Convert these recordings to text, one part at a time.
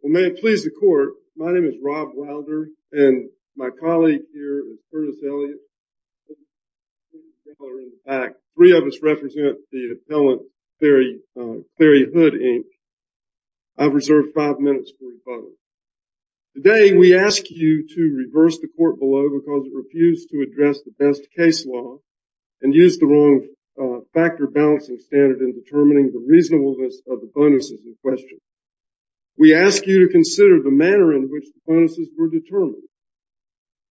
Well, may it please the court, my name is Rob Wilder and my colleague here is Curtis Elliott. Three of us represent the appellant, Cary Hood, Inc. I've reserved five minutes for you both. Today we ask you to reverse the court below because it refused to address the best case law and used the wrong factor balancing standard in determining the reasonableness of the bonuses in question. We ask you to consider the manner in which the bonuses were determined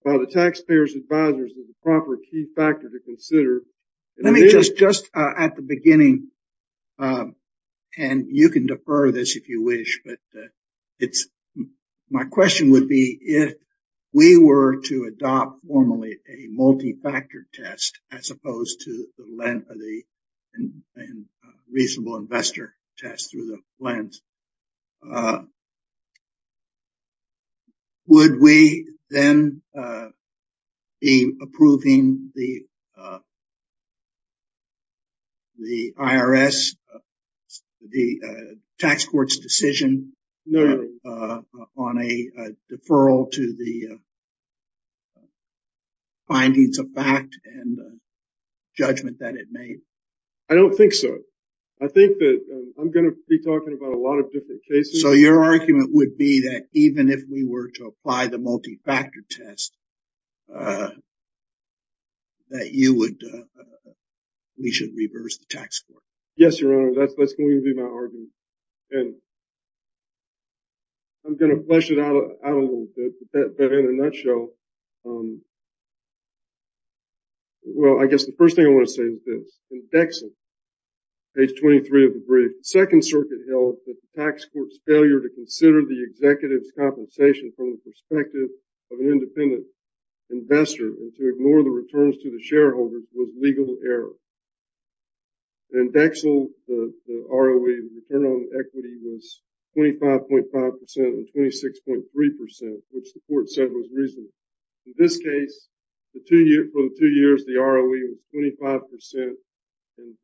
by the taxpayers' advisors as a proper key factor to consider. Let me just, just at the beginning, and you can defer this if you wish, but it's, my question would be if we were to adopt formally a multi-factor test as opposed to the length of a reasonable investor test through the lens, would we then be approving the IRS, the tax court's decision on a deferral to the findings of fact and judgment that it made? I don't think so. I think that I'm going to be talking about a lot of different cases. So your argument would be that even if we were to apply the multi-factor test that you would, we should reverse the tax court? Yes, Your Honor, that's going to be my argument and I'm going to flesh it out a little bit, but in a nutshell, well, I guess the first thing I want to say is this. In Dexil, page 23 of the brief, the Second Circuit held that the tax court's failure to consider the executive's compensation from the perspective of an independent investor and to ignore the returns to the shareholders was legal error. In Dexil, the ROE, the return on equity was 25.5 percent and 26.3 percent, which the court said was reasonable. In this case, for the two years, the ROE was 25 percent and,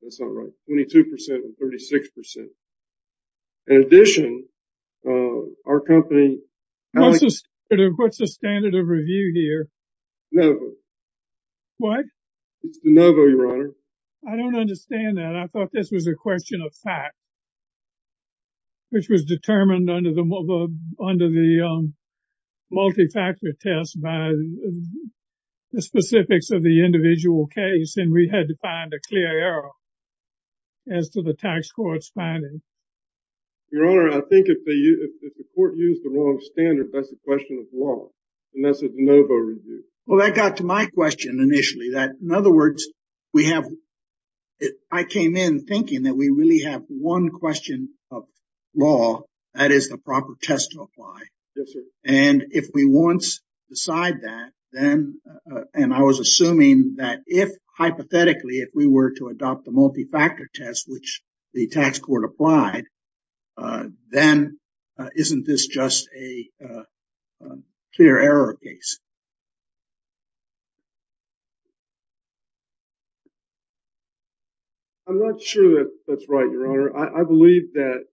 that's not right, 22 percent and 36 percent. In addition, our company, What's the standard of review here? De Novo. What? It's De Novo, Your Honor. I don't understand that. I thought this was a question of fact, which was determined under the multi-factor test by the specifics of the individual case, and we had to find a clear error as to the tax court's finding. Your Honor, I think if the court used the wrong standard, that's a question of law, and that's a De Novo review. Well, that got to my question initially, that, in other words, we have, I came in thinking that we really have one question of law, that is the proper test to apply. Yes, sir. And if we once decide that, then, and I was assuming that if hypothetically, if we were to adopt the multi-factor test, which the tax court applied, then isn't this just a clear error case? I'm not sure that that's right, Your Honor. I believe that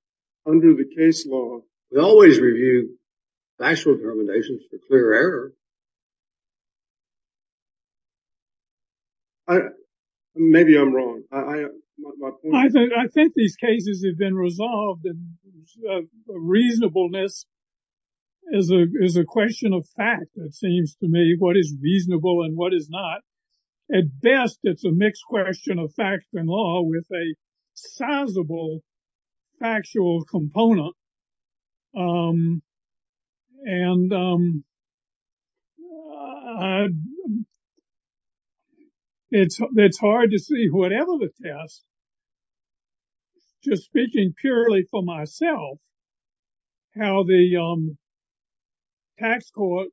under the case law, we always review factual determinations for clear error. Maybe I'm wrong. I think these cases have been resolved, and reasonableness is a question of fact, it seems to me, what is reasonable and what is not. At best, it's a mixed question of fact and law with a sizable factual component, and it's hard to see whatever the test, just speaking purely for myself, how the tax court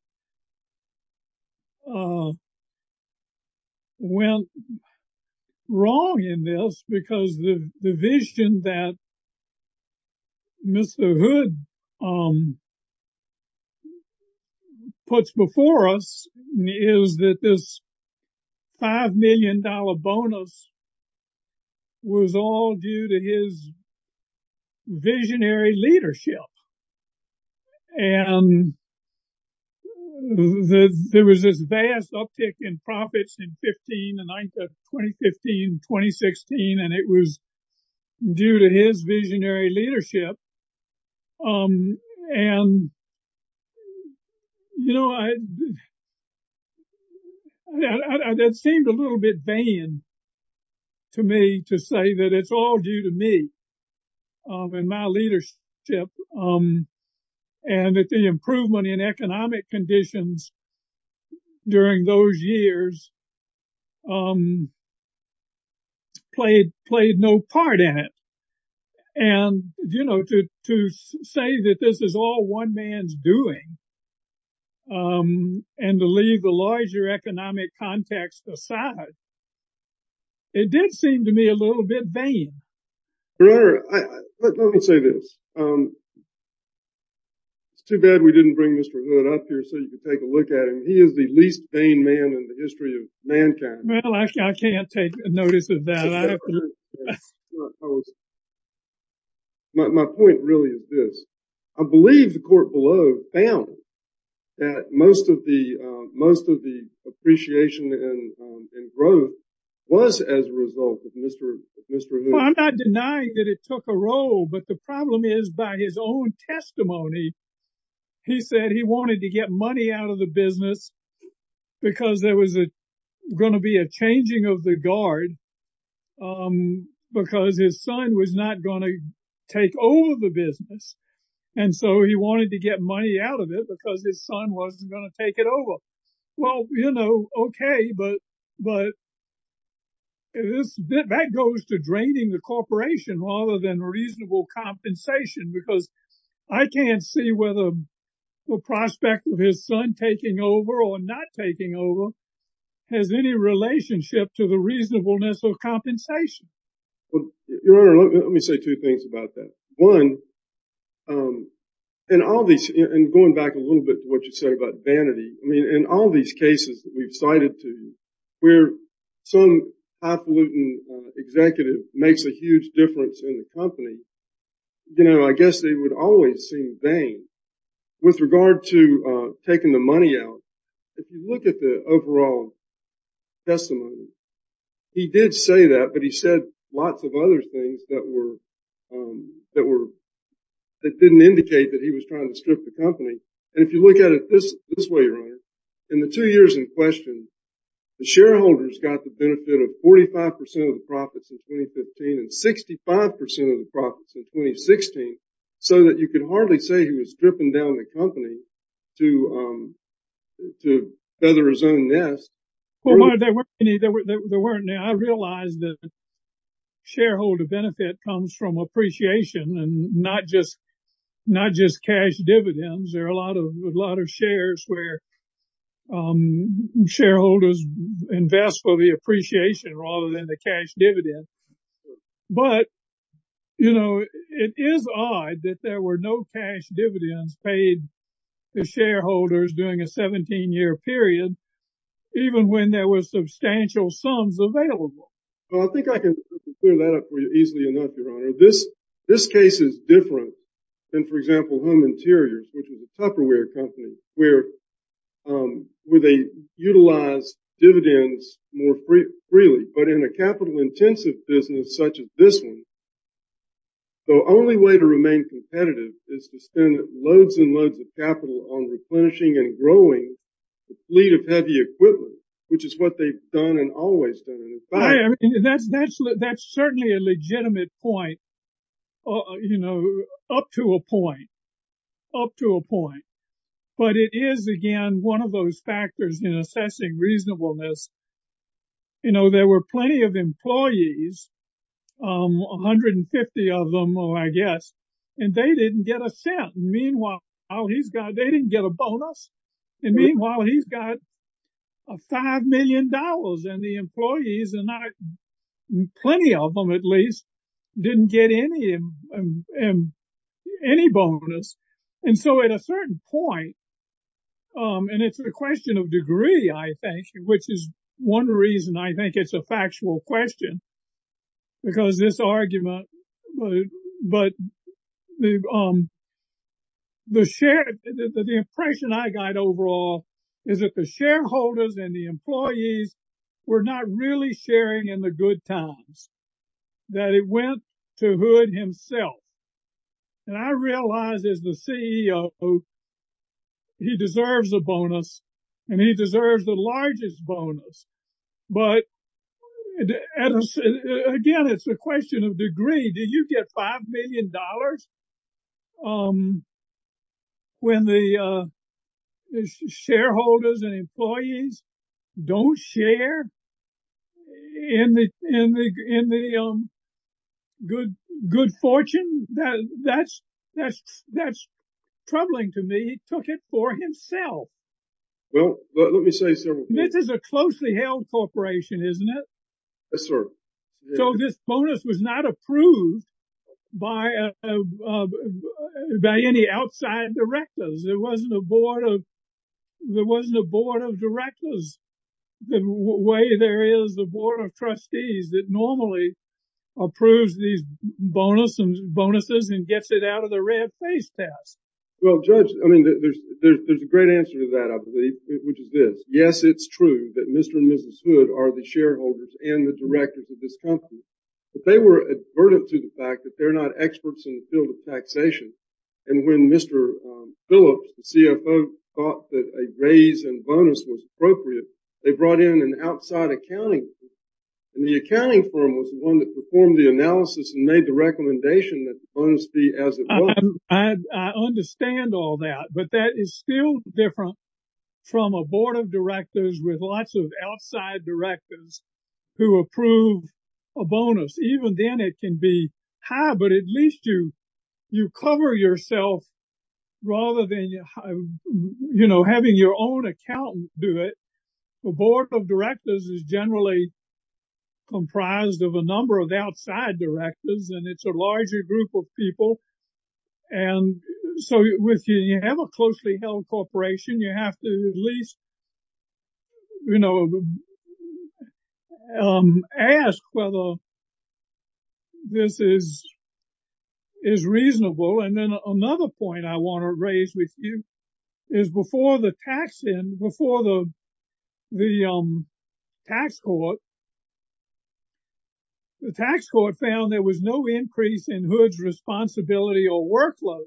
went wrong in this, because the vision that Mr. Hood puts before us is that this $5 million bonus was all due to his visionary leadership, and there was this vast uptick in profits in 15, the 9th of 2015, 2016, and it was due to his visionary leadership, and, you know, that seemed a little bit vain to me to say that it's all due to me and my leadership, and that the improvement in economic conditions during those years played no part in it, and, you know, to say that this is all one man's doing, and to leave the larger economic context aside, it did seem to me a little bit vain. Your Honor, let me say this. It's too bad we didn't bring Mr. Hood up here so you could take a look at him. He is the least vain man in the history of mankind. Well, I can't take notice of that. My point really is this. I believe the court below found that most of the appreciation and growth was as a result of Mr. Hood. Well, I'm not denying that it took a roll, but the problem is by his own testimony, he said he wanted to get money out of the business because there was going to be a changing of the guard, because his son was not going to take over the business, and so he wanted to get money out of it because his son wasn't going to take it over. Well, you know, okay, but that goes to draining the corporation rather than reasonable compensation, because I can't see whether the compensation. Well, Your Honor, let me say two things about that. One, and going back a little bit to what you said about vanity, I mean, in all these cases that we've cited to you where some highfalutin executive makes a huge difference in the company, you know, I guess they would always seem vain. With regard to taking the money out, if you look at the overall testimony, he did say that, but he said lots of other things that didn't indicate that he was trying to strip the company, and if you look at it this way, Your Honor, in the two years in question, the shareholders got the benefit of 45% of the profits in 2015 and 65% of the profits in 2016, so that you could hardly say he was stripping down the company to feather his own nest. Well, there weren't any. I realize that shareholder benefit comes from appreciation and not just cash dividends. There are a lot of shares where shareholders invest for the appreciation rather than the cash dividend, but, you know, it is odd that there were no dividends paid to shareholders during a 17-year period, even when there were substantial sums available. Well, I think I can clear that up for you easily enough, Your Honor. This case is different than, for example, Home Interiors, which is a Tupperware company where they utilize dividends more freely, but in a capital-intensive business such as this one, the only way to remain competitive is to spend loads and loads of capital on replenishing and growing a fleet of heavy equipment, which is what they've done and always done. That's certainly a legitimate point, you know, up to a point, up to a point, but it is, again, one of those factors in assessing reasonableness. You know, there were plenty of employees, 150 of them, I guess, and they didn't get a cent. Meanwhile, they didn't get a bonus, and meanwhile, he's got $5 million and the employees, plenty of them at least, didn't get any bonus. And so at a certain point, and it's a question of degree, I think, which is one reason I think it's a factual question, because this argument, but the impression I got overall is that the shareholders and the employees were not really sharing in the good times, that it went to Hood himself. And I realize as the CEO, he deserves a bonus, and he deserves the largest bonus. But again, it's a question of degree. Did you get $5 million when the shareholders and employees don't share in the good fortune? That's troubling to me. He took it for himself. Well, let me say several things. This is a closely held corporation, isn't it? Yes, sir. So this bonus was not approved by any outside directors. There wasn't a board of directors the way there is the board of trustees that normally approves these bonuses and gets it out of the red face test. Well, Judge, I mean, there's a great answer to that, I believe, which is this. Yes, it's true that Mr. and Mrs. Hood are the shareholders and the directors of this company, but they were advertent to the fact that they're not experts in the field of taxation. And when Mr. Phillips, the CFO, thought that a raise in bonus was appropriate, they brought in an outside accounting firm. And the accounting firm was the one that performed the analysis and made the recommendation that the bonus be as it was. I understand all that, but that is still different from a board of directors with lots of outside directors who approve a bonus. Even then it can be high, but at least you cover yourself rather than having your own accountant do it. The board of directors is generally comprised of a number of outside directors, and it's a larger group of people. And so with you, you have a closely held corporation, you have to at least ask whether this is reasonable. And then another point I want to raise with you is before the tax court, the tax court found there was no increase in Hood's responsibility or workload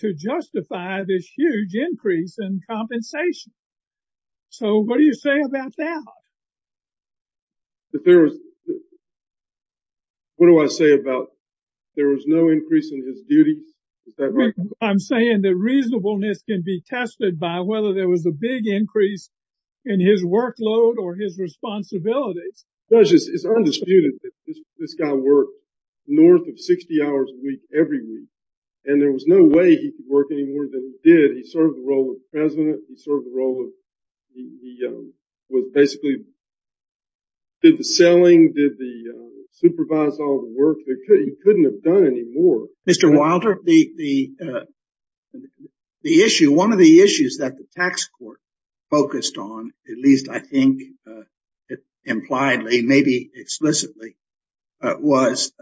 to justify this huge increase in compensation. So what do you say about that? That there was, what do I say about there was no increase in his duty? I'm saying that reasonableness can be tested by whether there was a big increase in his workload or his responsibilities. Judge, it's undisputed that this guy worked north of 60 hours a week every week, and there was no way he could work any more than he did. He served the role of president, he served the role of, he was basically, did the selling, did the, supervised all the work that he couldn't have done anymore. Mr. Wilder, the issue, one of the issues that the tax court focused on, at least I think it impliedly, maybe explicitly, was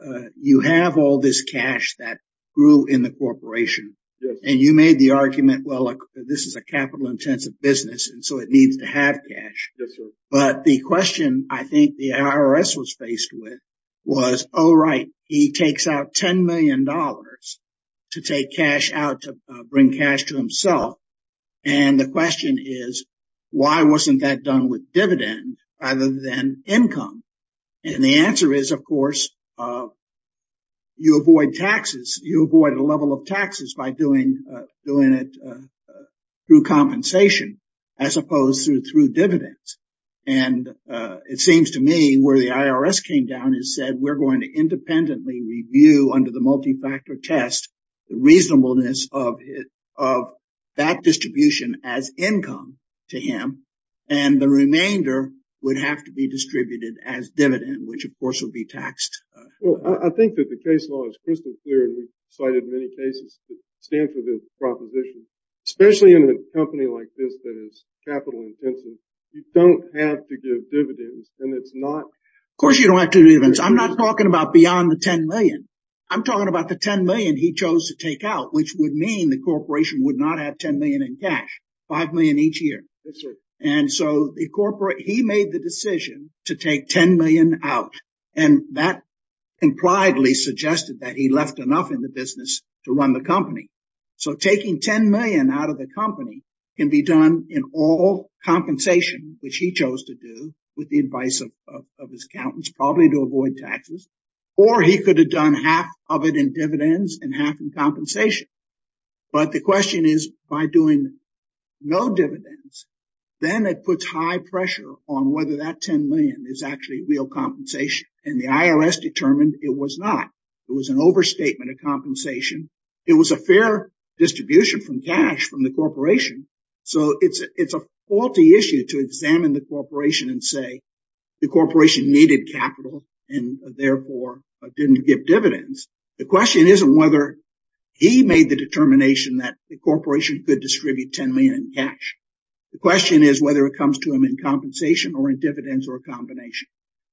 you have all this cash that grew in the corporation, and you made the argument, well, this is a capital-intensive business, and so it needs to have cash. But the question I think the IRS was faced with was, oh, right, he takes out $10 million to take cash out to bring cash to himself. And the question is, why wasn't that done with dividend rather than income? And the answer is, of course, you avoid taxes, you avoid a level of taxes by doing it through compensation, as opposed to through dividends. And it seems to me where the IRS came down and said, we're going to independently review under the multi-factor test the reasonableness of that distribution as income to him, and the remainder would have to be distributed as dividend, which of course would be taxed. Well, I think that the case law is crystal clear, and we've cited many cases that stand for this proposition, especially in a company like this that is capital-intensive. You don't have to give dividends, and it's not... Of course you don't have to give dividends. I'm not talking about beyond the $10 million. I'm talking about the $10 million he chose to take out, which would mean the corporation would not have $10 million in cash, $5 million each year. And so he made the decision to take $10 million out, and that impliedly suggested that he left enough in the business to run the company. So taking $10 million out of the company can be done in all compensation, which he chose to do with the advice of his accountants, probably to avoid taxes, or he could have done half of it in dividends and half in compensation. But the question is, by doing no dividends, then it puts high pressure on whether that $10 million is actually real compensation. And the IRS determined it was not. It was an overstatement of compensation. It was a fair distribution from cash from the corporation. So it's a faulty issue to examine the corporation and say, the corporation needed capital and therefore didn't give dividends. The question isn't whether he made the determination that the corporation could distribute $10 million in cash. The question is whether it comes to him in compensation or in dividends or a combination.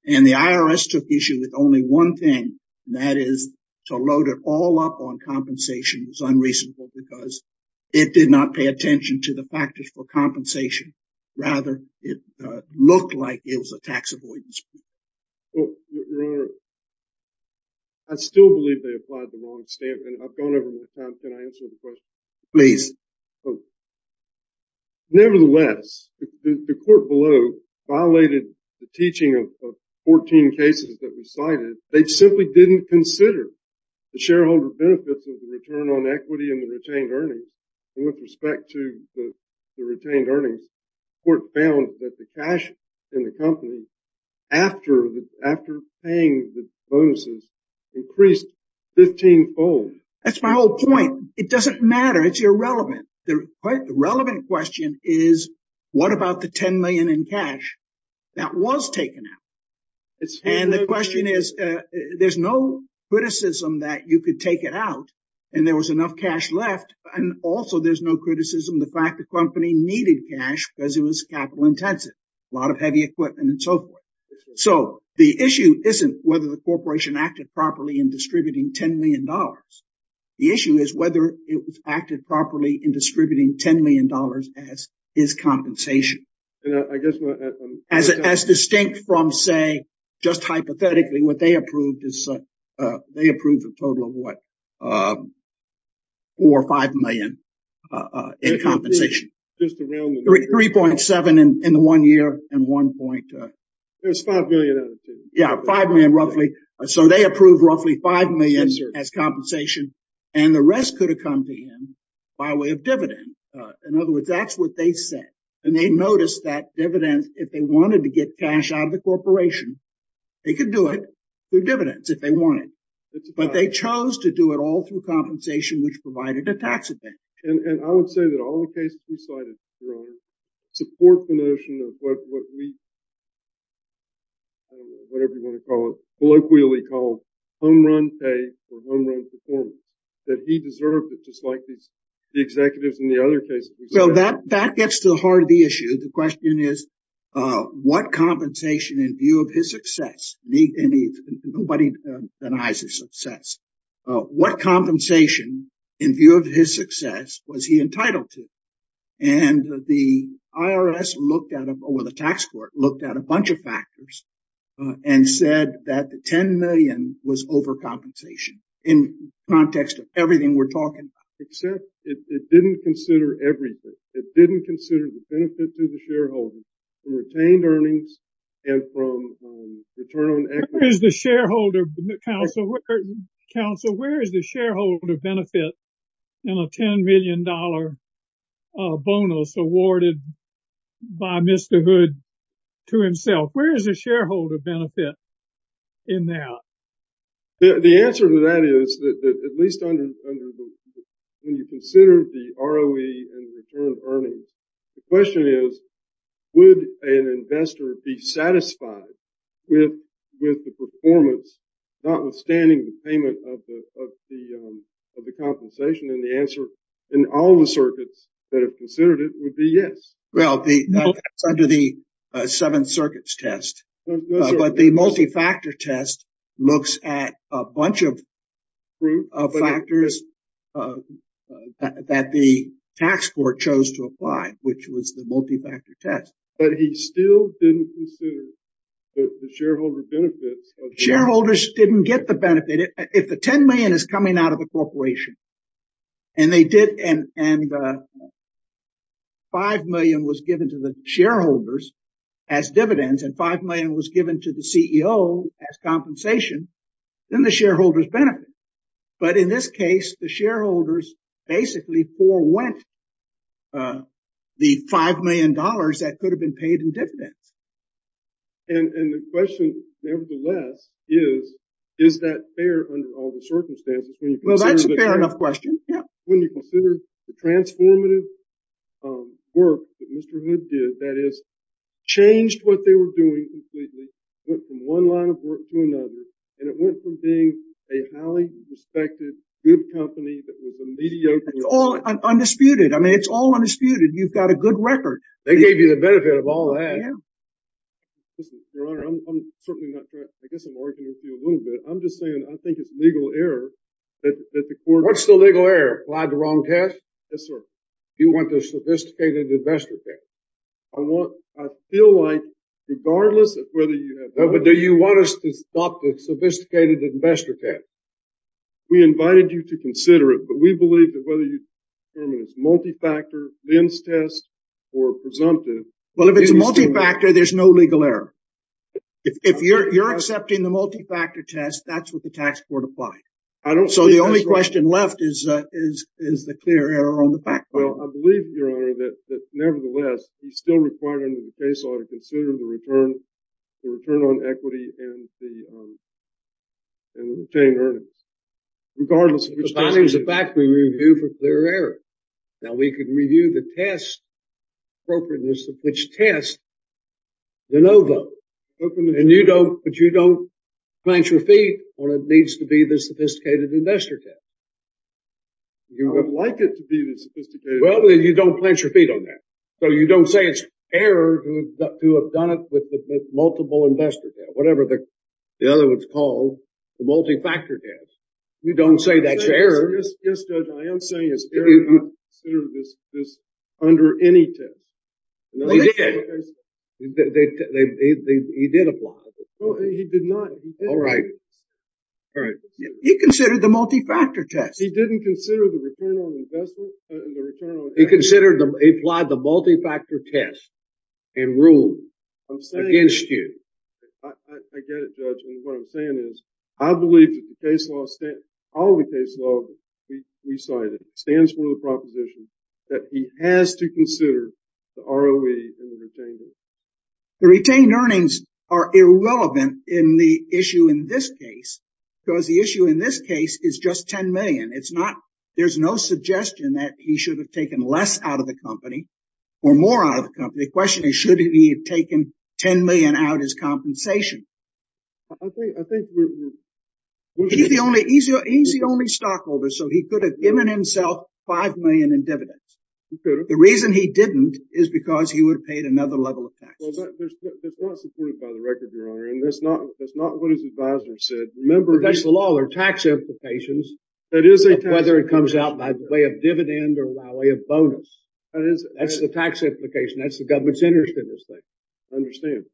And the IRS took issue with only one thing, and that is to load it all up on compensation. It was unreasonable because it did not pay attention to the factors for compensation. Rather, it looked like it was a tax avoidance. Well, Your Honor, I still believe they applied the long statement. I've gone over the time. Can I answer the question? Please. Nevertheless, the court below violated the teaching of 14 cases that were cited. They simply didn't consider the shareholder benefits of the return on equity in the retained earnings. And with respect to the retained earnings, the court found that the cash in the company, after paying the bonuses, increased 15 fold. That's my whole point. It doesn't matter. It's irrelevant. The relevant question is, what about the $10 million in cash that was taken out? And the question is, there's no criticism that you could take it out and there was enough cash left. And also, there's no criticism of the fact the company needed cash because it was capital intensive, a lot of heavy equipment and so forth. So the issue isn't whether the corporation acted properly in distributing $10 million. The issue is whether it acted properly in distributing $10 million as compensation. As distinct from, say, just hypothetically, what they approved is they approved a total of what? $4 or $5 million in compensation. $3.7 in the one year and one point. There's $5 million out of $10 million. Yeah, $5 million roughly. So they approved roughly $5 million as compensation and the rest could have come to him by way of dividend. In other words, that's what they said. And they noticed that dividends, if they wanted to get cash out of the corporation, they could do it through dividends if they wanted. But they chose to do it all through compensation, which provided a tax advantage. And I would say that all the cases we cited, Your Honor, support the notion of what we, I don't know, whatever you want to call it, colloquially called home run pay for home run performance. That he deserved it just like the executives in the other cases. So that gets to the heart of the issue. The question is, what compensation in view of his success, and nobody denies his success, what compensation in view of his success was he entitled to? And the IRS looked at, or the tax court, looked at a bunch of factors and said that the $10 million was overcompensation in context of everything we're talking about. Except it didn't consider everything. It didn't consider the benefit to the shareholder from retained earnings and from return on equity. Where is the shareholder benefit in a $10 million bonus awarded by Mr. Hood to himself? Where is the shareholder benefit in a $10 million bonus awarded by Mr. Hood to himself? The question is, would an investor be satisfied with the performance, notwithstanding the payment of the compensation? And the answer in all the circuits that have considered it would be yes. Well, that's under the seven circuits test. But the multifactor test looks at a bunch of factors that the tax court chose to apply, which was the multifactor test. But he still didn't consider the shareholder benefits. Shareholders didn't get the benefit. If the $10 million is coming out of a corporation, and $5 million was given to the shareholders as dividends, and $5 million was given to the CEO as compensation, then the shareholders benefit. But in this case, the shareholders basically forwent the $5 million that could have been paid in dividends. And the question, nevertheless, is, is that fair under all the circumstances? Well, that's a fair enough question. When you consider the transformative work that Mr. Hood did, that has changed what they were doing completely, went from one line of work to another. And it went from being a highly respected, good company that was a mediocre- It's all undisputed. I mean, it's all undisputed. You've got a good record. They gave you the benefit of all that. Listen, your honor, I'm certainly not trying, I guess I'm arguing with you a little bit. I'm just saying, I think it's legal error that the court- What's the legal error? Applied the wrong test? Yes, sir. You want the sophisticated investor test. I feel like regardless of whether you have- But do you want us to stop the sophisticated investor test? We invited you to consider it, but we believe that whether you determine it's a multi-factor, lens test, or presumptive- Well, if it's a multi-factor, there's no legal error. If you're accepting the multi-factor test, that's what the tax court applied. I don't- The only question left is the clear error on the back part. Well, I believe, your honor, that nevertheless, we still require under the case law to consider the return on equity and the retained earnings, regardless of which test- But that is a fact we review for clear error. Now, we can review the test, appropriateness of which test, the no vote, but you don't plant your feet on what needs to be the sophisticated investor test. You would like it to be the sophisticated- Well, then you don't plant your feet on that. So, you don't say it's error to have done it with the multiple investor test, whatever the other one's called, the multi-factor test. You don't say that's error. Yes, Judge, I am saying it's error not to consider this under any test. He did. He did apply. No, he did not. All right. All right. He considered the multi-factor test. He didn't consider the return on investment and the return on- He considered the- He applied the multi-factor test and ruled against you. I get it, Judge, and what I'm saying is, I believe that the case law, all the case law we cited, stands for the proposition that he has to consider the ROE and the retained earnings. The retained earnings are irrelevant in the issue in this case, because the issue in this case is just $10 million. It's not- There's no suggestion that he should have taken less out of the company or more out of the company. The question is, should he have taken $10 million out as compensation? I think we're- He's the only- He's the only stockholder, He could have. The reason he didn't is because he would have paid another level of taxes. Well, that's not supported by the record, Your Honor, and that's not what his advisor said. Remember- That's the law. There are tax implications- That is a tax implication. Whether it comes out by way of dividend or by way of bonus. That is- That's the tax implication. That's the government's interest in this thing. I understand.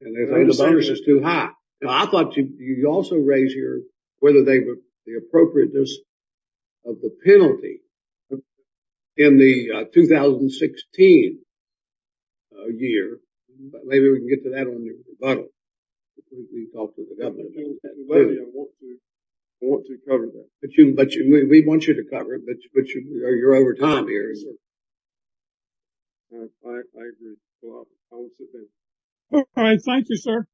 And they think the bonus is too high. I thought you also raised here whether the appropriateness of the penalty in the 2016 year. Maybe we can get to that on the rebuttal. I want to cover that. We want you to cover it, but you're over time here. All right. Thank you, sir.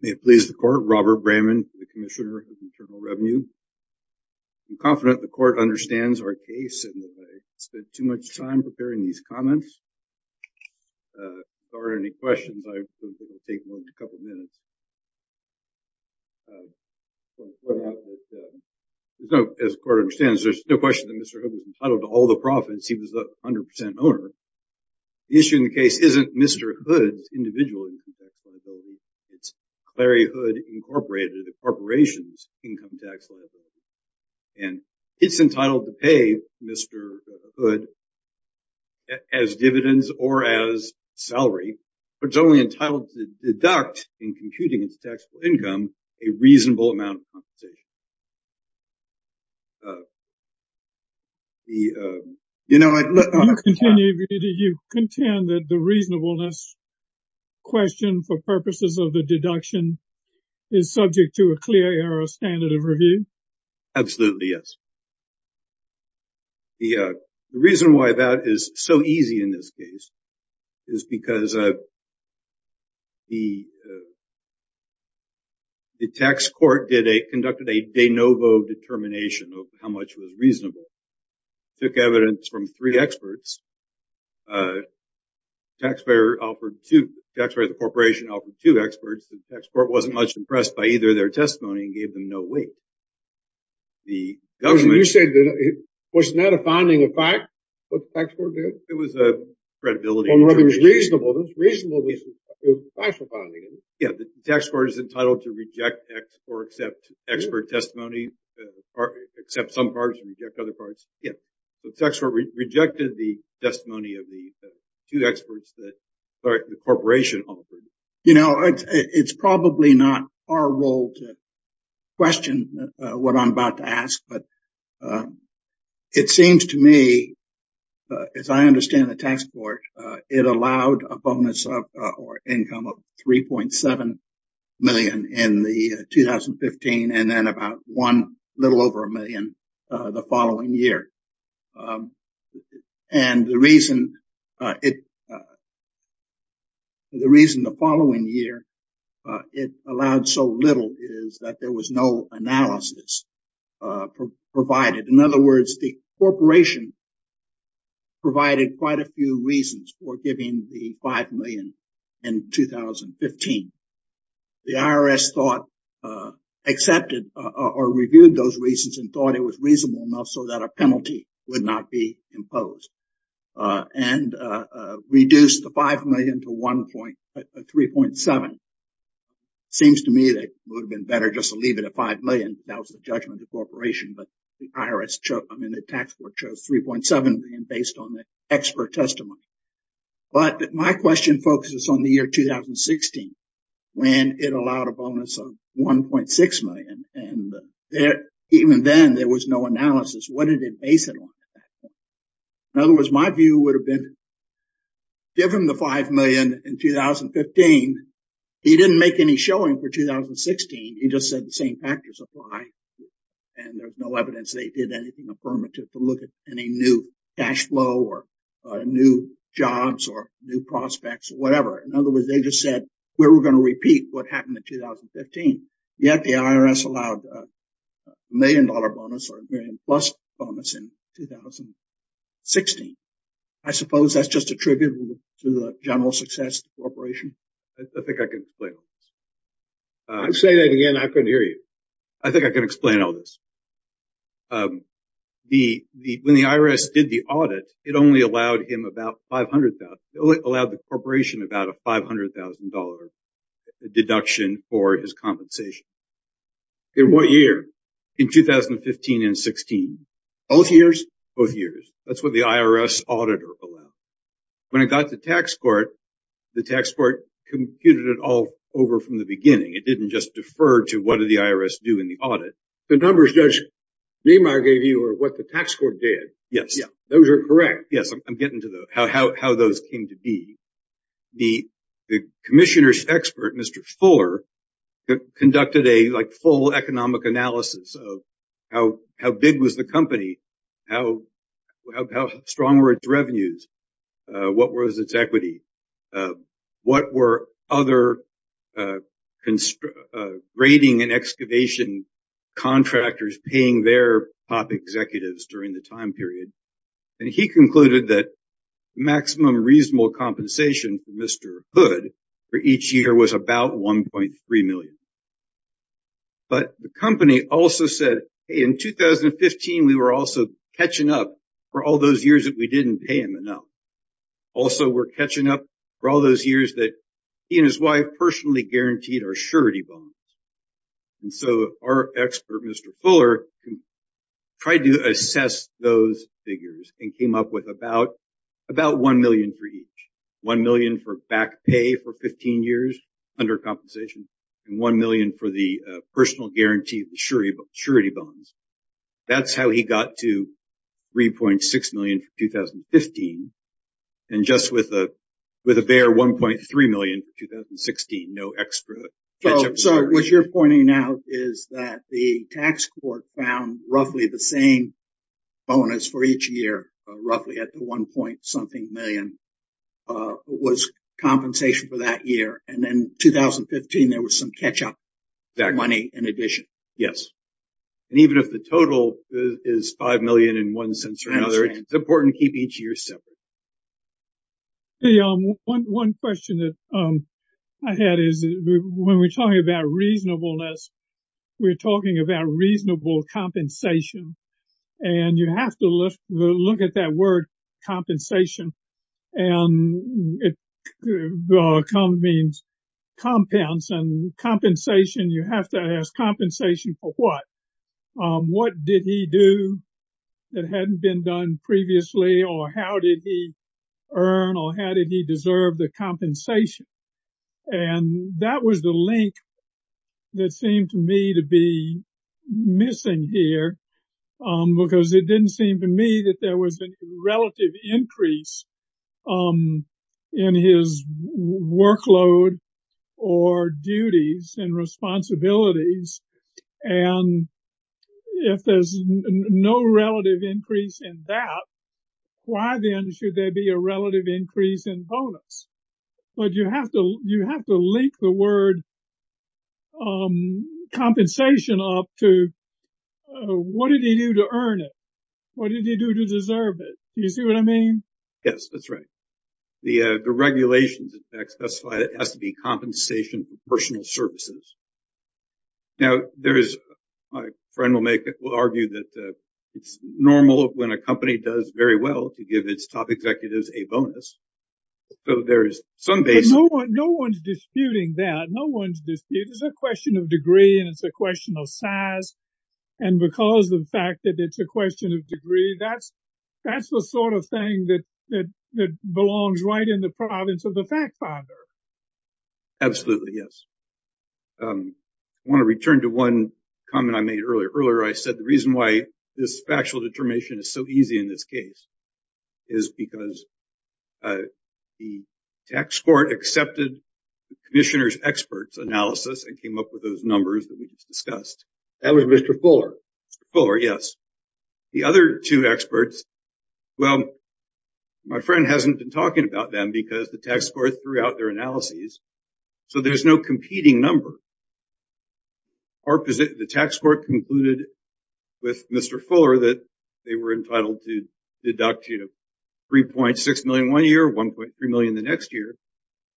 May it please the court, Robert Bramman, the Commissioner of Internal Revenue. I'm confident the court understands our case, and that I spent too much time preparing these comments. If there aren't any questions, I'm going to take a couple of minutes. As the court understands, there's no question that Mr. Hood was entitled to all the profits. He was the 100% owner. The issue in the case isn't Mr. Hood's individual income tax liability. It's Clary Hood Incorporated, a corporation's income tax liability. And it's entitled to pay Mr. Hood as dividends or as salary, but it's only entitled to deduct, in computing its taxable income, a reasonable amount of compensation. Do you contend that the reasonableness question for purposes of the deduction is subject to a clear error standard of review? Absolutely, yes. The reason why that is so easy in this case is because of determination of how much was reasonable. Took evidence from three experts. Taxpayer offered two. Taxpayer of the corporation offered two experts. The tax court wasn't much impressed by either of their testimony and gave them no weight. The government... You said that it was not a founding of fact, what the tax court did? It was a credibility. Well, it was reasonable. It was reasonable. It was a factual founding. Yeah, the tax court is entitled to reject or accept expert testimony, accept some parts and reject other parts. Yeah. The tax court rejected the testimony of the two experts that the corporation offered. You know, it's probably not our role to question what I'm about to ask, but it seems to me, as I understand the tax court, it allowed a bonus of, or income of 3.7 million in the 2015, and then about one little over a million the following year. And the reason it... The reason the following year it allowed so little is that there was no analysis provided. In other words, the corporation provided quite a few reasons for giving the 5 million in 2015. The IRS thought... Accepted or reviewed those reasons and thought it was reasonable enough so that a penalty would not be imposed. And reduced the 5 million to 3.7. Seems to me that it would have been better just to leave it at 5 million. That was the judgment of the corporation. But the IRS chose... I mean, the tax court chose 3.7 million based on the expert testimony. But my question focuses on the year 2016, when it allowed a bonus of 1.6 million. And even then there was no analysis. What did it base it on? In other words, my view would have been, given the 5 million in 2015, he didn't make any showing for 2016. He just said the same factors apply. And there's no evidence they did anything affirmative to look at any new cash flow or new jobs or new prospects or whatever. In other words, they just said, we're going to repeat what happened in 2015. Yet the IRS allowed a million-dollar bonus or a million-plus bonus in 2016. I suppose that's just a tribute to the general success of the corporation. I think I can play on this. I'm saying that again, I couldn't hear you. I think I can explain all this. When the IRS did the audit, it only allowed him about $500,000. It only allowed the corporation about a $500,000 deduction for his compensation. In what year? In 2015 and 2016. Both years? Both years. That's what the IRS auditor allowed. When it got to tax court, the tax court computed it all over from the beginning. It didn't just defer to what did the IRS do in the audit. The numbers Judge Niemeyer gave you are what the tax court did. Yes. Those are correct. Yes. I'm getting to how those came to be. The commissioner's expert, Mr. Fuller, conducted a full economic analysis of how big was the company, how strong were its revenues. What was its equity? What were other grading and excavation contractors paying their top executives during the time period? He concluded that the maximum reasonable compensation for Mr. Hood for each year was about $1.3 million. The company also said, in 2015, we were also catching up for all those years that we didn't pay him enough. Also, we're catching up for all those years that he and his wife personally guaranteed our surety bonds. Our expert, Mr. Fuller, tried to assess those figures and came up with about $1 million for each. $1 million for back pay for 15 years under compensation and $1 million for the personal guarantee surety bonds. That's how he got to $3.6 million in 2015. Just with a bare $1.3 million in 2016, no extra. What you're pointing out is that the tax court found roughly the same bonus for each year, roughly at the $1 point something million, was compensation for that year. In 2015, there was some catch-up money in addition. Yes. Even if the total is $5 million in one sense or another, it's important to keep each year separate. Hey, one question that I had is when we're talking about reasonableness, we're talking about reasonable compensation. You have to look at that word, compensation, and it means compounds. You have to ask compensation for what? What did he do that hadn't been done previously? How did he earn or how did he deserve the compensation? That was the link that seemed to me to be missing here because it didn't seem to me that there was a relative increase in his workload or duties and responsibilities. And if there's no relative increase in that, why then should there be a relative increase in bonus? But you have to link the word compensation up to what did he do to earn it? What did he do to deserve it? Do you see what I mean? Yes, that's right. The regulations, in fact, specify it has to be compensation for personal services. Now, my friend will argue that it's normal when a company does very well to give its top executives a bonus. So there is some basis. No one's disputing that. No one's disputing it. It's a question of degree and it's a question of size. And because of the fact that it's a question of degree, that's the sort of thing that belongs right in the province of the fact finder. Absolutely, yes. I want to return to one comment I made earlier. Earlier, I said the reason why this factual determination is so easy in this case is because the tax court accepted the commissioner's experts analysis and came up with those numbers that we just discussed. That was Mr. Fuller. Fuller, yes. The other two experts, well, my friend hasn't been talking about them because the tax court threw out their analyses. So there's no competing number. The tax court concluded with Mr. Fuller that they were entitled to deduct, you know, 3.6 million one year, 1.3 million the next year.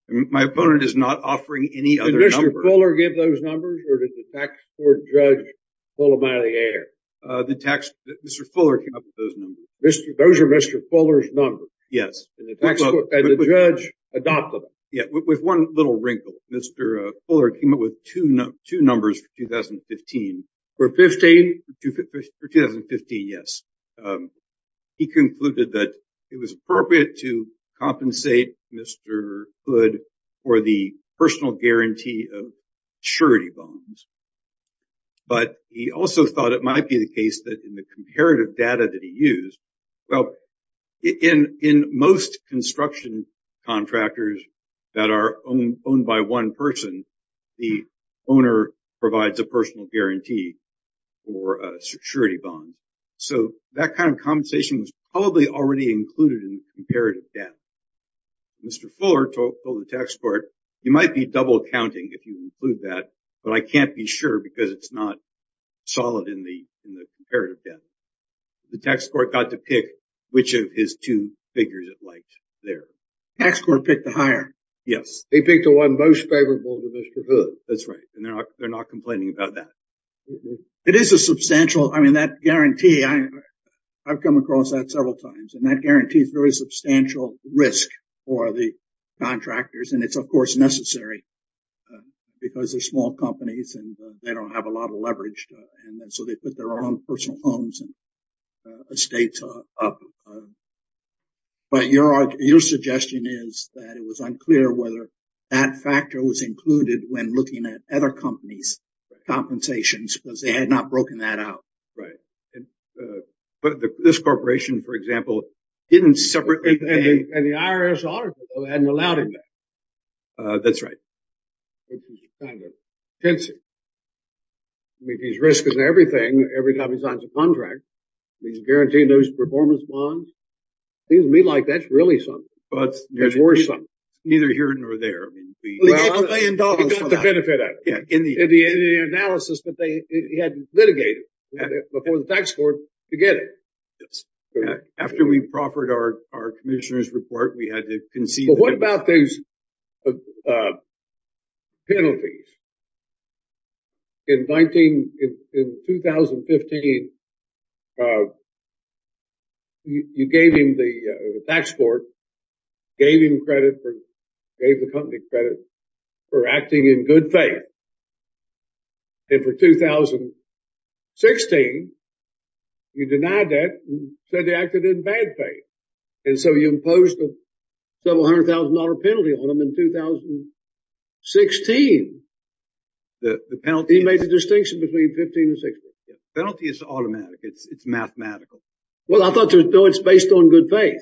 My opponent is not offering any other number. Did Mr. Fuller give those numbers or did the tax court judge pull them out of the air? Mr. Fuller came up with those numbers. Those are Mr. Fuller's numbers? Yes. And the judge adopted them? Yeah, with one little wrinkle. Mr. Fuller came up with two numbers for 2015. For 15? For 2015, yes. He concluded that it was appropriate to compensate Mr. Hood for the personal guarantee of surety bonds, but he also thought it might be the case that in the comparative data that he that are owned by one person, the owner provides a personal guarantee for a surety bond. So that kind of compensation was probably already included in the comparative debt. Mr. Fuller told the tax court, you might be double accounting if you include that, but I can't be sure because it's not solid in the comparative debt. The tax court got to pick which of his two figures it liked there. Tax court picked the higher. Yes. They picked the one most favorable to Mr. Hood. That's right. And they're not complaining about that. It is a substantial, I mean, that guarantee, I've come across that several times, and that guarantees very substantial risk for the contractors. And it's, of course, necessary because they're small companies and they don't have a lot of leverage. And so they put their own personal homes and estates up. But your suggestion is that it was unclear whether that factor was included when looking at other companies' compensations because they had not broken that out. Right. But this corporation, for example, didn't separate. And the IRS auditor hadn't allowed him that. That's right. It was kind of tense. I mean, these risks and everything, every time he signs a contract, he's guaranteed those performance bonds. Seems to me like that's really something. But there's worse than that. Neither here nor there. I mean, we got the benefit of it in the analysis that they had litigated before the tax court to get it. After we proffered our commissioner's report, we had to concede. But what about those penalties? In 2015, you gave him the tax court, gave him credit, gave the company credit for acting in good faith. And for 2016, you denied that and said they acted in bad faith. And so you imposed a several hundred thousand dollar penalty on them in 2016. He made the distinction between 15 and 16. Penalty is automatic. It's mathematical. Well, I thought it was based on good faith.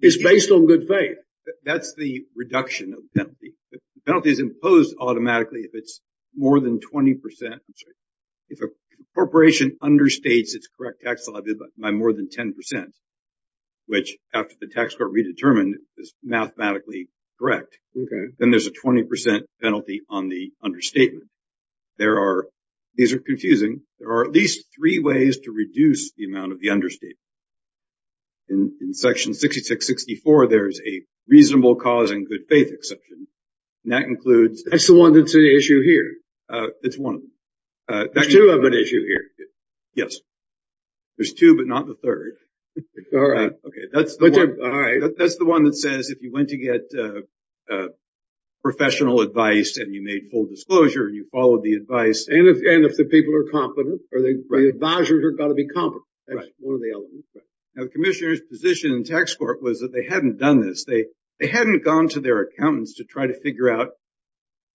It's based on good faith. That's the reduction of the penalty. The penalty is imposed automatically if it's more than 20%. If a corporation understates its correct tax liability by more than 10%, which after the tax court redetermined is mathematically correct, then there's a 20% penalty on the understatement. These are confusing. There are at least three ways to reduce the amount of the understatement. In section 6664, there's a reasonable cause and good faith exception. That includes... That's the one that's an issue here. It's one of them. There's two of them. Yes, there's two, but not the third. All right. Okay. That's the one that says if you went to get professional advice and you made full disclosure and you followed the advice... And if the people are competent or the advisors are going to be competent. That's one of the elements. Now, the commissioner's position in tax court was that they hadn't done this. They hadn't gone to their accountants to try to figure out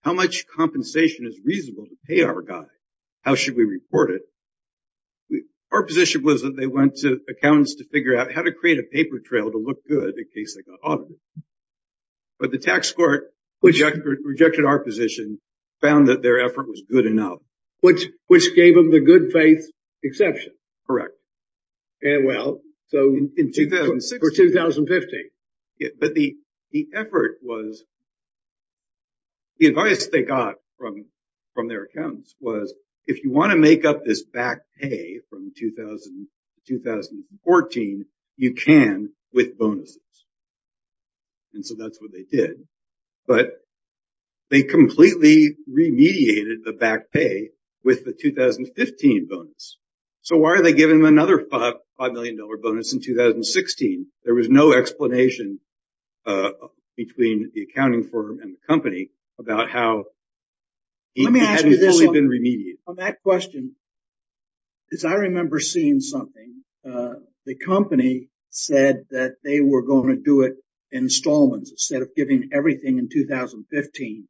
how much compensation is reasonable to pay our guy. How should we report it? Our position was that they went to accountants to figure out how to create a paper trail to look good in case they got audited. But the tax court rejected our position, found that their effort was good enough. Which gave them the good faith exception. Well, so in 2016... For 2015. But the effort was... The advice they got from their accountants was, if you want to make up this back pay from 2014, you can with bonuses. And so that's what they did. But they completely remediated the back pay with the 2015 bonus. So why are they giving them another $5 million bonus in 2016? There was no explanation between the accounting firm and the company about how... On that question, because I remember seeing something. The company said that they were going to do it installments. Instead of giving everything in 2015,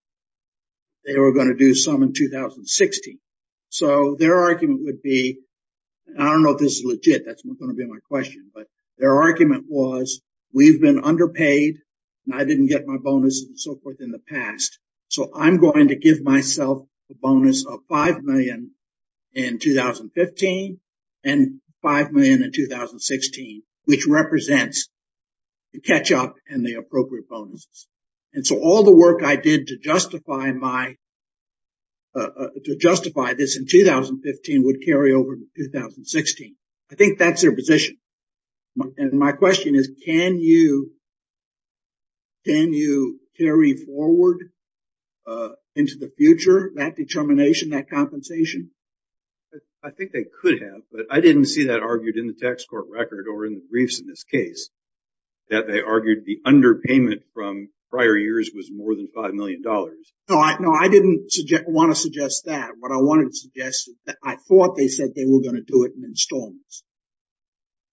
they were going to do some in 2016. So their argument would be... I don't know if this is legit. That's not going to be my question. But their argument was, we've been underpaid and I didn't get my bonus and so forth in the past. So I'm going to give myself a bonus of $5 million in 2015 and $5 million in 2016. Which represents the catch-up and the appropriate bonuses. And so all the work I did to justify my... To justify this in 2015 would carry over to 2016. I think that's their position. And my question is, can you... Into the future, that determination, that compensation? I think they could have. But I didn't see that argued in the tax court record or in the briefs in this case. That they argued the underpayment from prior years was more than $5 million. No, I didn't want to suggest that. What I wanted to suggest is that I thought they said they were going to do it in installments.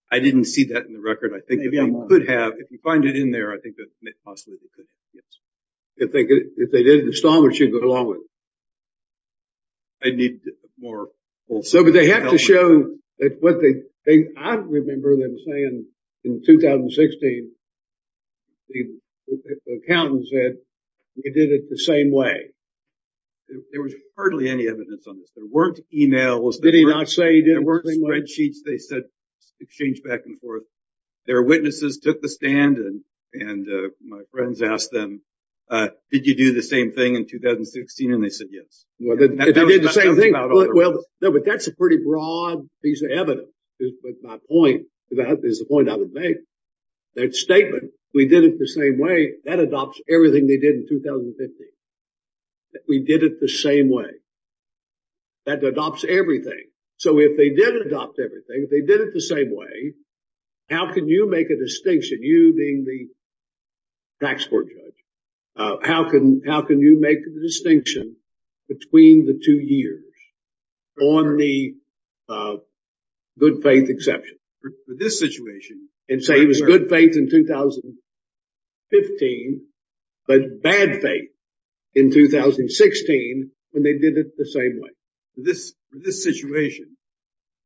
I didn't see that in the record. I think they could have. If you find it in there, I think that possibly they could. If they did it in installments, you'd go along with it. I need more... But they have to show that what they... I remember them saying in 2016, the accountant said, we did it the same way. There was hardly any evidence on this. There weren't emails. Did he not say he did it the same way? There weren't spreadsheets they said exchanged back and forth. Their witnesses took the stand and my friends asked them, did you do the same thing in 2016? And they said, yes. No, but that's a pretty broad piece of evidence. But my point, that is the point I would make. That statement, we did it the same way, that adopts everything they did in 2015. We did it the same way. That adopts everything. So if they did adopt everything, if they did it the same way, how can you make a distinction, you being the tax court judge? How can you make the distinction between the two years on the good faith exception? For this situation... And say it was good faith in 2015, but bad faith in 2016 when they did it the same way. This situation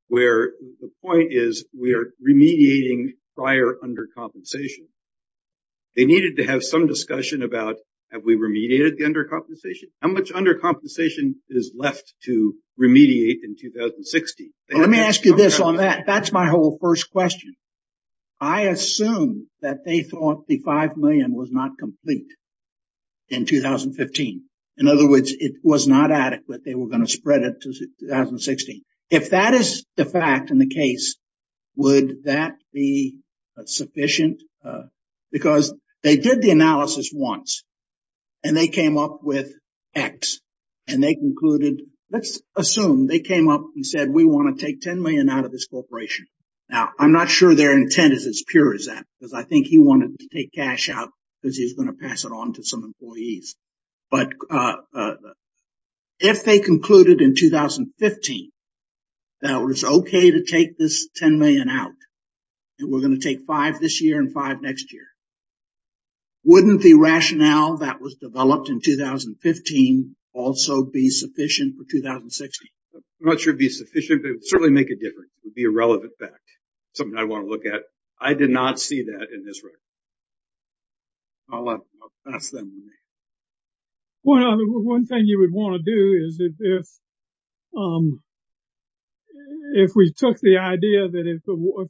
where the point is we are remediating prior undercompensation. They needed to have some discussion about, have we remediated the undercompensation? How much undercompensation is left to remediate in 2016? Let me ask you this on that. That's my whole first question. I assume that they thought the $5 million was not complete in 2015. In other words, it was not adequate. They were going to spread it to 2016. If that is the fact in the case, would that be sufficient? Because they did the analysis once and they came up with X. And they concluded, let's assume they came up and said, we want to take $10 million out of this corporation. Now, I'm not sure their intent is as pure as that, because I think he wanted to take cash out because he's going to pass it on to some employees. But if they concluded in 2015 that it was OK to take this $10 million out, and we're going to take five this year and five next year, wouldn't the rationale that was developed in 2015 also be sufficient for 2016? I'm not sure it would be sufficient, but it would certainly make a difference. It would be a relevant fact. Something I want to look at. I did not see that in this record. I'll let them pass that on to me. Well, one thing you would want to do is if we took the idea that if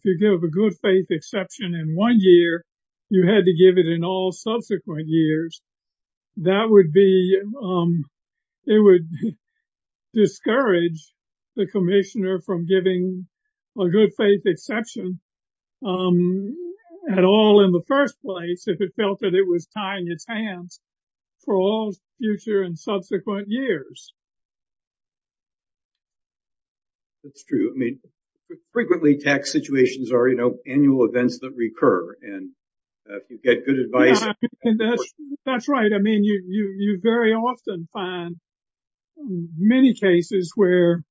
you give a good faith exception in one year, you had to give it in all subsequent years, that would discourage the commissioner from giving a good faith exception at all in the first place, if it felt that it was tying its hands for all future and subsequent years. It's true. I mean, frequently tax situations are annual events that recur. And if you get good advice... That's right. I mean, you very often find many cases where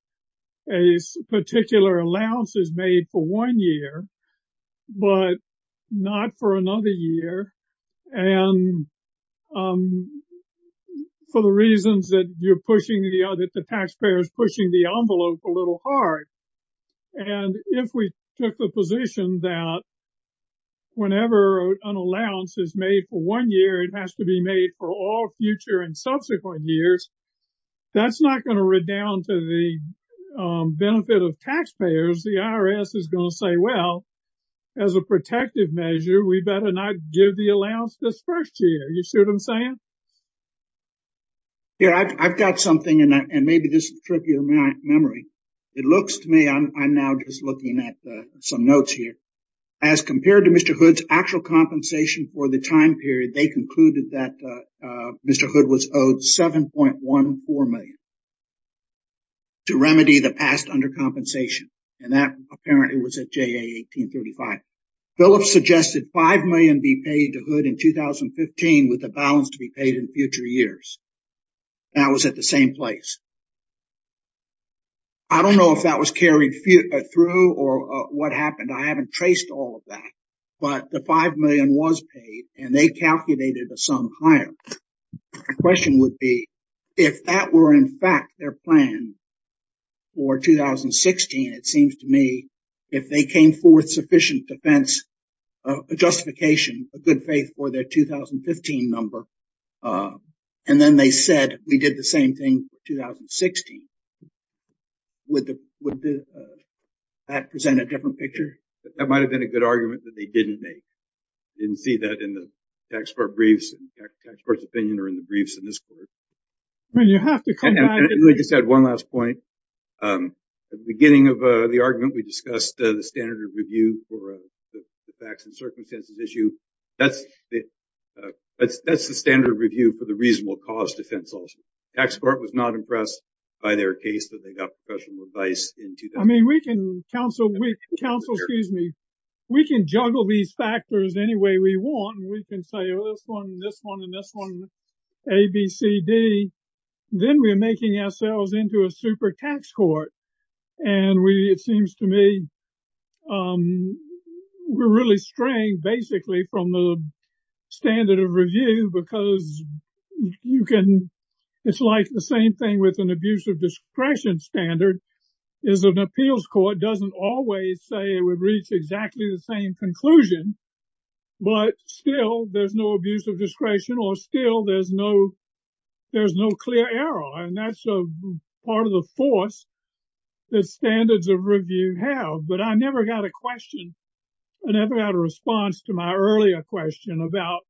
a particular allowance is made for one year, but not for another year, and for the reasons that the taxpayer is pushing the envelope a little hard. And if we took the position that whenever an allowance is made for one year, it has to be made for all future and subsequent years, that's not going to redound to the benefit of taxpayers. The IRS is going to say, well, as a protective measure, we better not give the allowance this first year. You see what I'm saying? Yeah, I've got something and maybe this is tripping my memory. It looks to me, I'm now just looking at some notes here. As compared to Mr. Hood's actual compensation for the time period, they concluded that Mr. Hood was owed $7.14 million to remedy the past undercompensation. That apparently was at JA 1835. Phillips suggested $5 million be paid to Hood in 2015 with the balance to be paid in future years. That was at the same place. I don't know if that was carried through or what happened. I haven't traced all of that, but the $5 million was paid and they calculated a sum higher. My question would be, if that were in fact their plan for 2016, it seems to me, if they came forth sufficient defense, a justification, a good faith for their 2015 number, and then they said, we did the same thing for 2016, would that present a different picture? That might have been a good argument that they didn't make. Didn't see that in the tax court briefs, in the tax court's opinion or in the briefs in this court. I mean, you have to come back. And I just had one last point. At the beginning of the argument, we discussed the standard of review for the facts and circumstances issue. That's the standard review for the reasonable cause defense also. Tax court was not impressed by their case that they got professional advice in 2000. I mean, we can counsel, excuse me, we can juggle these factors any way we want. We can say, oh, this one, this one, and this one, A, B, C, D. Then we're making ourselves into a super tax court. And it seems to me, we're really straying basically from the standard of review, because it's like the same thing with an abuse of discretion standard, is an appeals court doesn't always say it would reach exactly the same conclusion, but still there's no abuse of discretion or still there's no clear error. And that's part of the force that standards of review have. But I never got a question, I never got a response to my earlier question about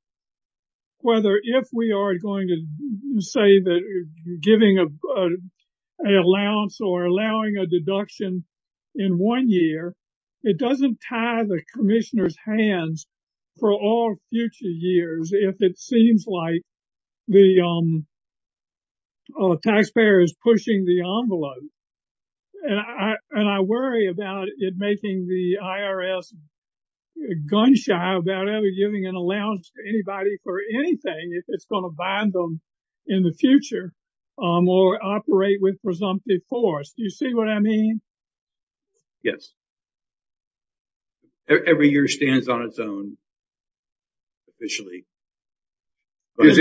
whether if we are going to say that giving an allowance or allowing a deduction in one year, it doesn't tie the commissioner's hands for all future years if it seems like the taxpayer is pushing the envelope. And I worry about it making the IRS gun-shy about ever giving an allowance to anybody for anything if it's going to bind them in the future or operate with presumptive force. Do you see what I mean? Yes. Every year stands on its own officially. Every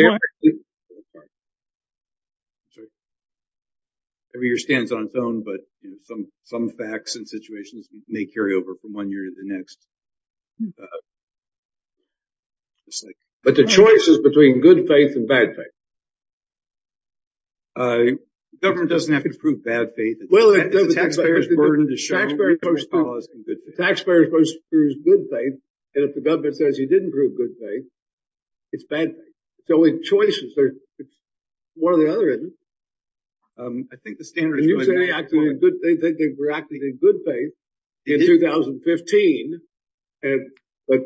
year stands on its own, but some facts and situations may carry over from one year to the next. But the choice is between good faith and bad faith. Government doesn't have to prove bad faith. The taxpayer is supposed to prove good faith, and if the government says you didn't prove good faith, it's bad faith. It's only choices. One or the other, isn't it? I think the standard is good. You said they were acting in good faith in 2015, but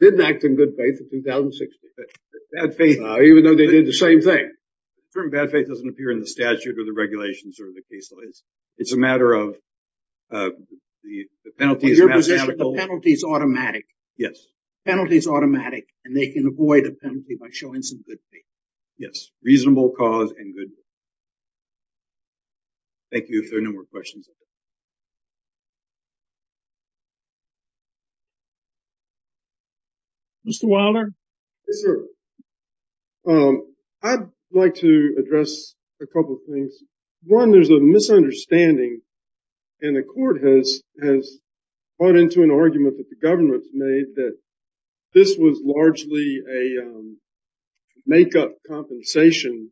didn't act in good faith in 2016. Even though they did the same thing. The term bad faith doesn't appear in the statute or the regulations or the caseloads. It's a matter of the penalties. The penalty is automatic. Yes. Penalty is automatic, and they can avoid a penalty by showing some good faith. Yes. Reasonable cause and good faith. Thank you. If there are no more questions. Mr. Wilder? I'd like to address a couple of things. One, there's a misunderstanding, and the court has brought into an argument that the government made that this was largely a makeup compensation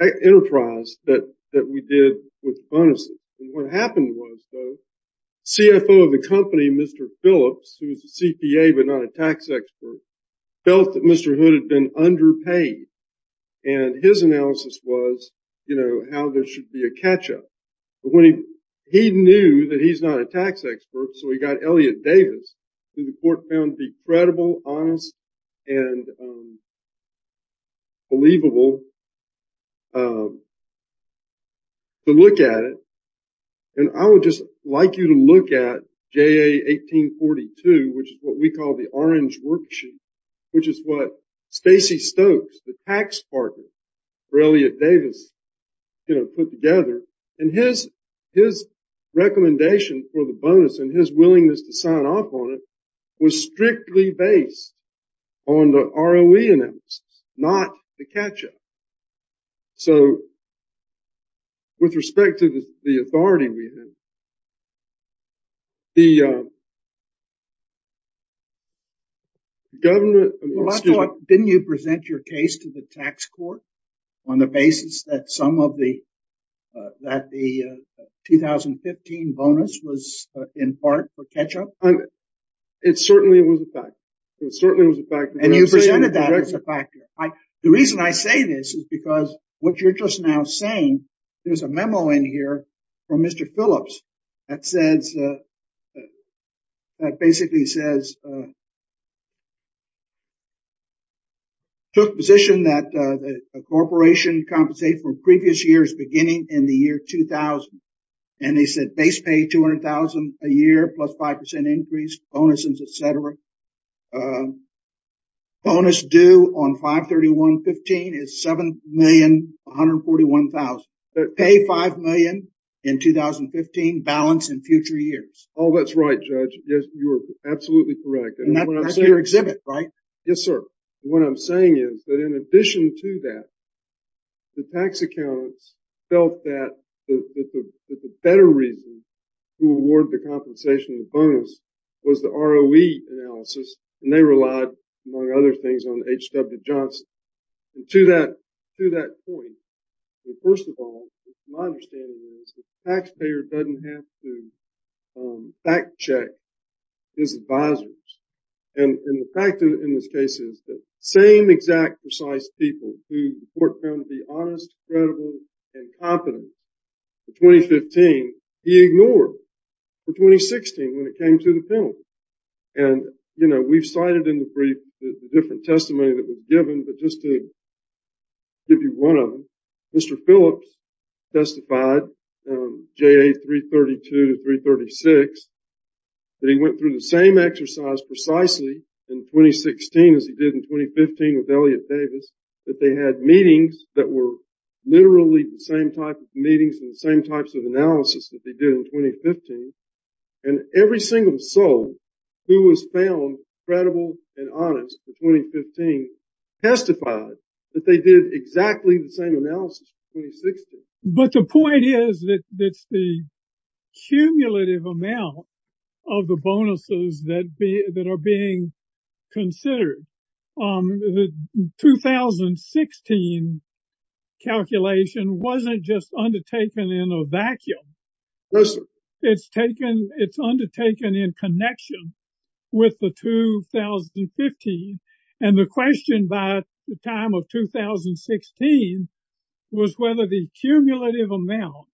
enterprise that we did with bonuses. What happened was, though, the CFO of the company, Mr. Phillips, who was a CPA but not a tax expert, felt that Mr. Hood had been underpaid, and his analysis was how there should be a catch-up. When he knew that he's not a tax expert, so he got Elliot Davis, who the court found decredible, honest, and believable to look at it. I would just like you to look at JA 1842, which is what we call the orange worksheet, which is what Stacey Stokes, the tax partner for Elliot Davis, put together. And his recommendation for the bonus and his willingness to sign off on it was strictly based on the ROE analysis, not the catch-up. So, with respect to the authority we had, the government... Well, I thought, didn't you present your case to the tax court on the basis that some of the... that the 2015 bonus was in part for catch-up? It certainly was a fact. It certainly was a fact. And you presented that as a fact. The reason I say this is because what you're just now saying, there's a memo in here from Mr. Phillips that says... basically says... took position that a corporation compensates for previous years beginning in the year 2000. And they said base pay $200,000 a year plus 5% increase, bonuses, etc. Bonus due on 5-31-15 is $7,141,000. Pay $5,000,000 in 2015, balance in future years. Oh, that's right, Judge. Yes, you are absolutely correct. And that's your exhibit, right? Yes, sir. What I'm saying is that in addition to that, the tax accountants felt that the better reason to award the compensation bonus was the ROE analysis, and they relied, among other things, on H.W. Johnson. And to that point, first of all, my understanding is the taxpayer doesn't have to fact-check his advisors. And the fact in this case is the same exact precise people who the court found to be honest, credible, and competent in 2015, he ignored in 2016 when it came to the penalty. And, you know, we've cited in the brief the different testimony that was given, but just to give you one of them, Mr. Phillips testified, J.A. 332 to 336, that he went through the same exercise precisely in 2016 as he did in 2015 with Elliott Davis, that they had meetings that were literally the same type of meetings and the same types of analysis that they did in 2015. And every single soul who was found credible and honest in 2015 testified that they did exactly the same analysis in 2016. But the point is that it's the cumulative amount of the bonuses that are being considered. The 2016 calculation wasn't just undertaken in a vacuum. It's undertaken in connection with the 2015. And the question by the time of 2016 was whether the cumulative amount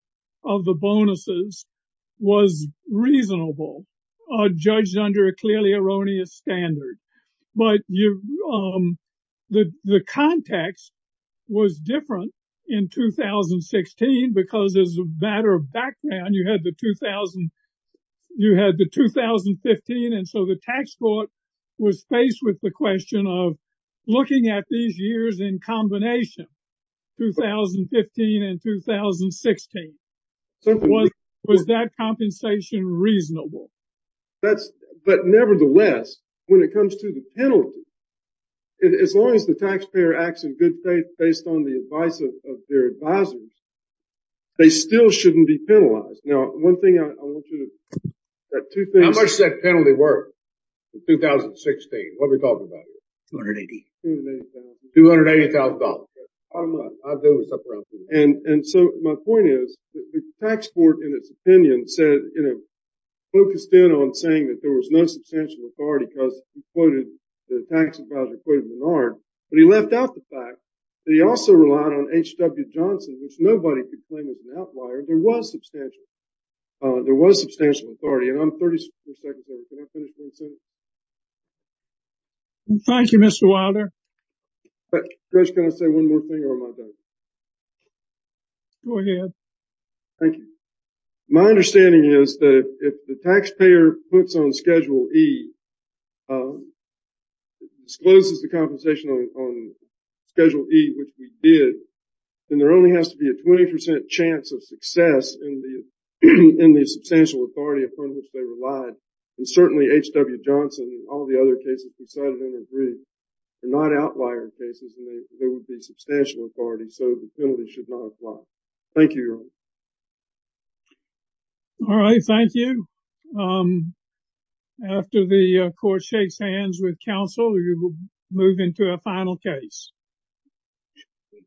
of the bonuses was reasonable or judged under a clearly erroneous standard. But the context was different in 2016 because as a matter of background, you had the 2000, you had the 2015. And so the tax court was faced with the question of looking at these years in combination, 2015 and 2016. Was that compensation reasonable? But nevertheless, when it comes to the penalty, as long as the taxpayer acts in good faith based on the advice of their advisors, they still shouldn't be penalized. Now, one thing I want you to, that two things. How much did that penalty work in 2016? What are we talking about here? 280. $280,000. And so my point is the tax court in its opinion said, you know, focused in on saying that there was no substantial authority because he quoted the tax advisor, quoted Menard. But he left out the fact that he also relied on H.W. Johnson, which nobody could claim as an outlier. There was substantial. There was substantial authority. And I'm 30 seconds over. Can I finish? Thank you, Mr. Wilder. Judge, can I say one more thing or am I done? Go ahead. Thank you. My understanding is that if the taxpayer puts on Schedule E, discloses the compensation on Schedule E, which we did, then there only has to be a 20% chance of success in the substantial authority upon which they relied. And certainly, H.W. Johnson and all the other cases decided and agreed. They're not outlier cases. There would be substantial authority. So the penalty should not apply. Thank you, Your Honor. All right. Thank you. After the court shakes hands with counsel, we will move into a final case. Thank you.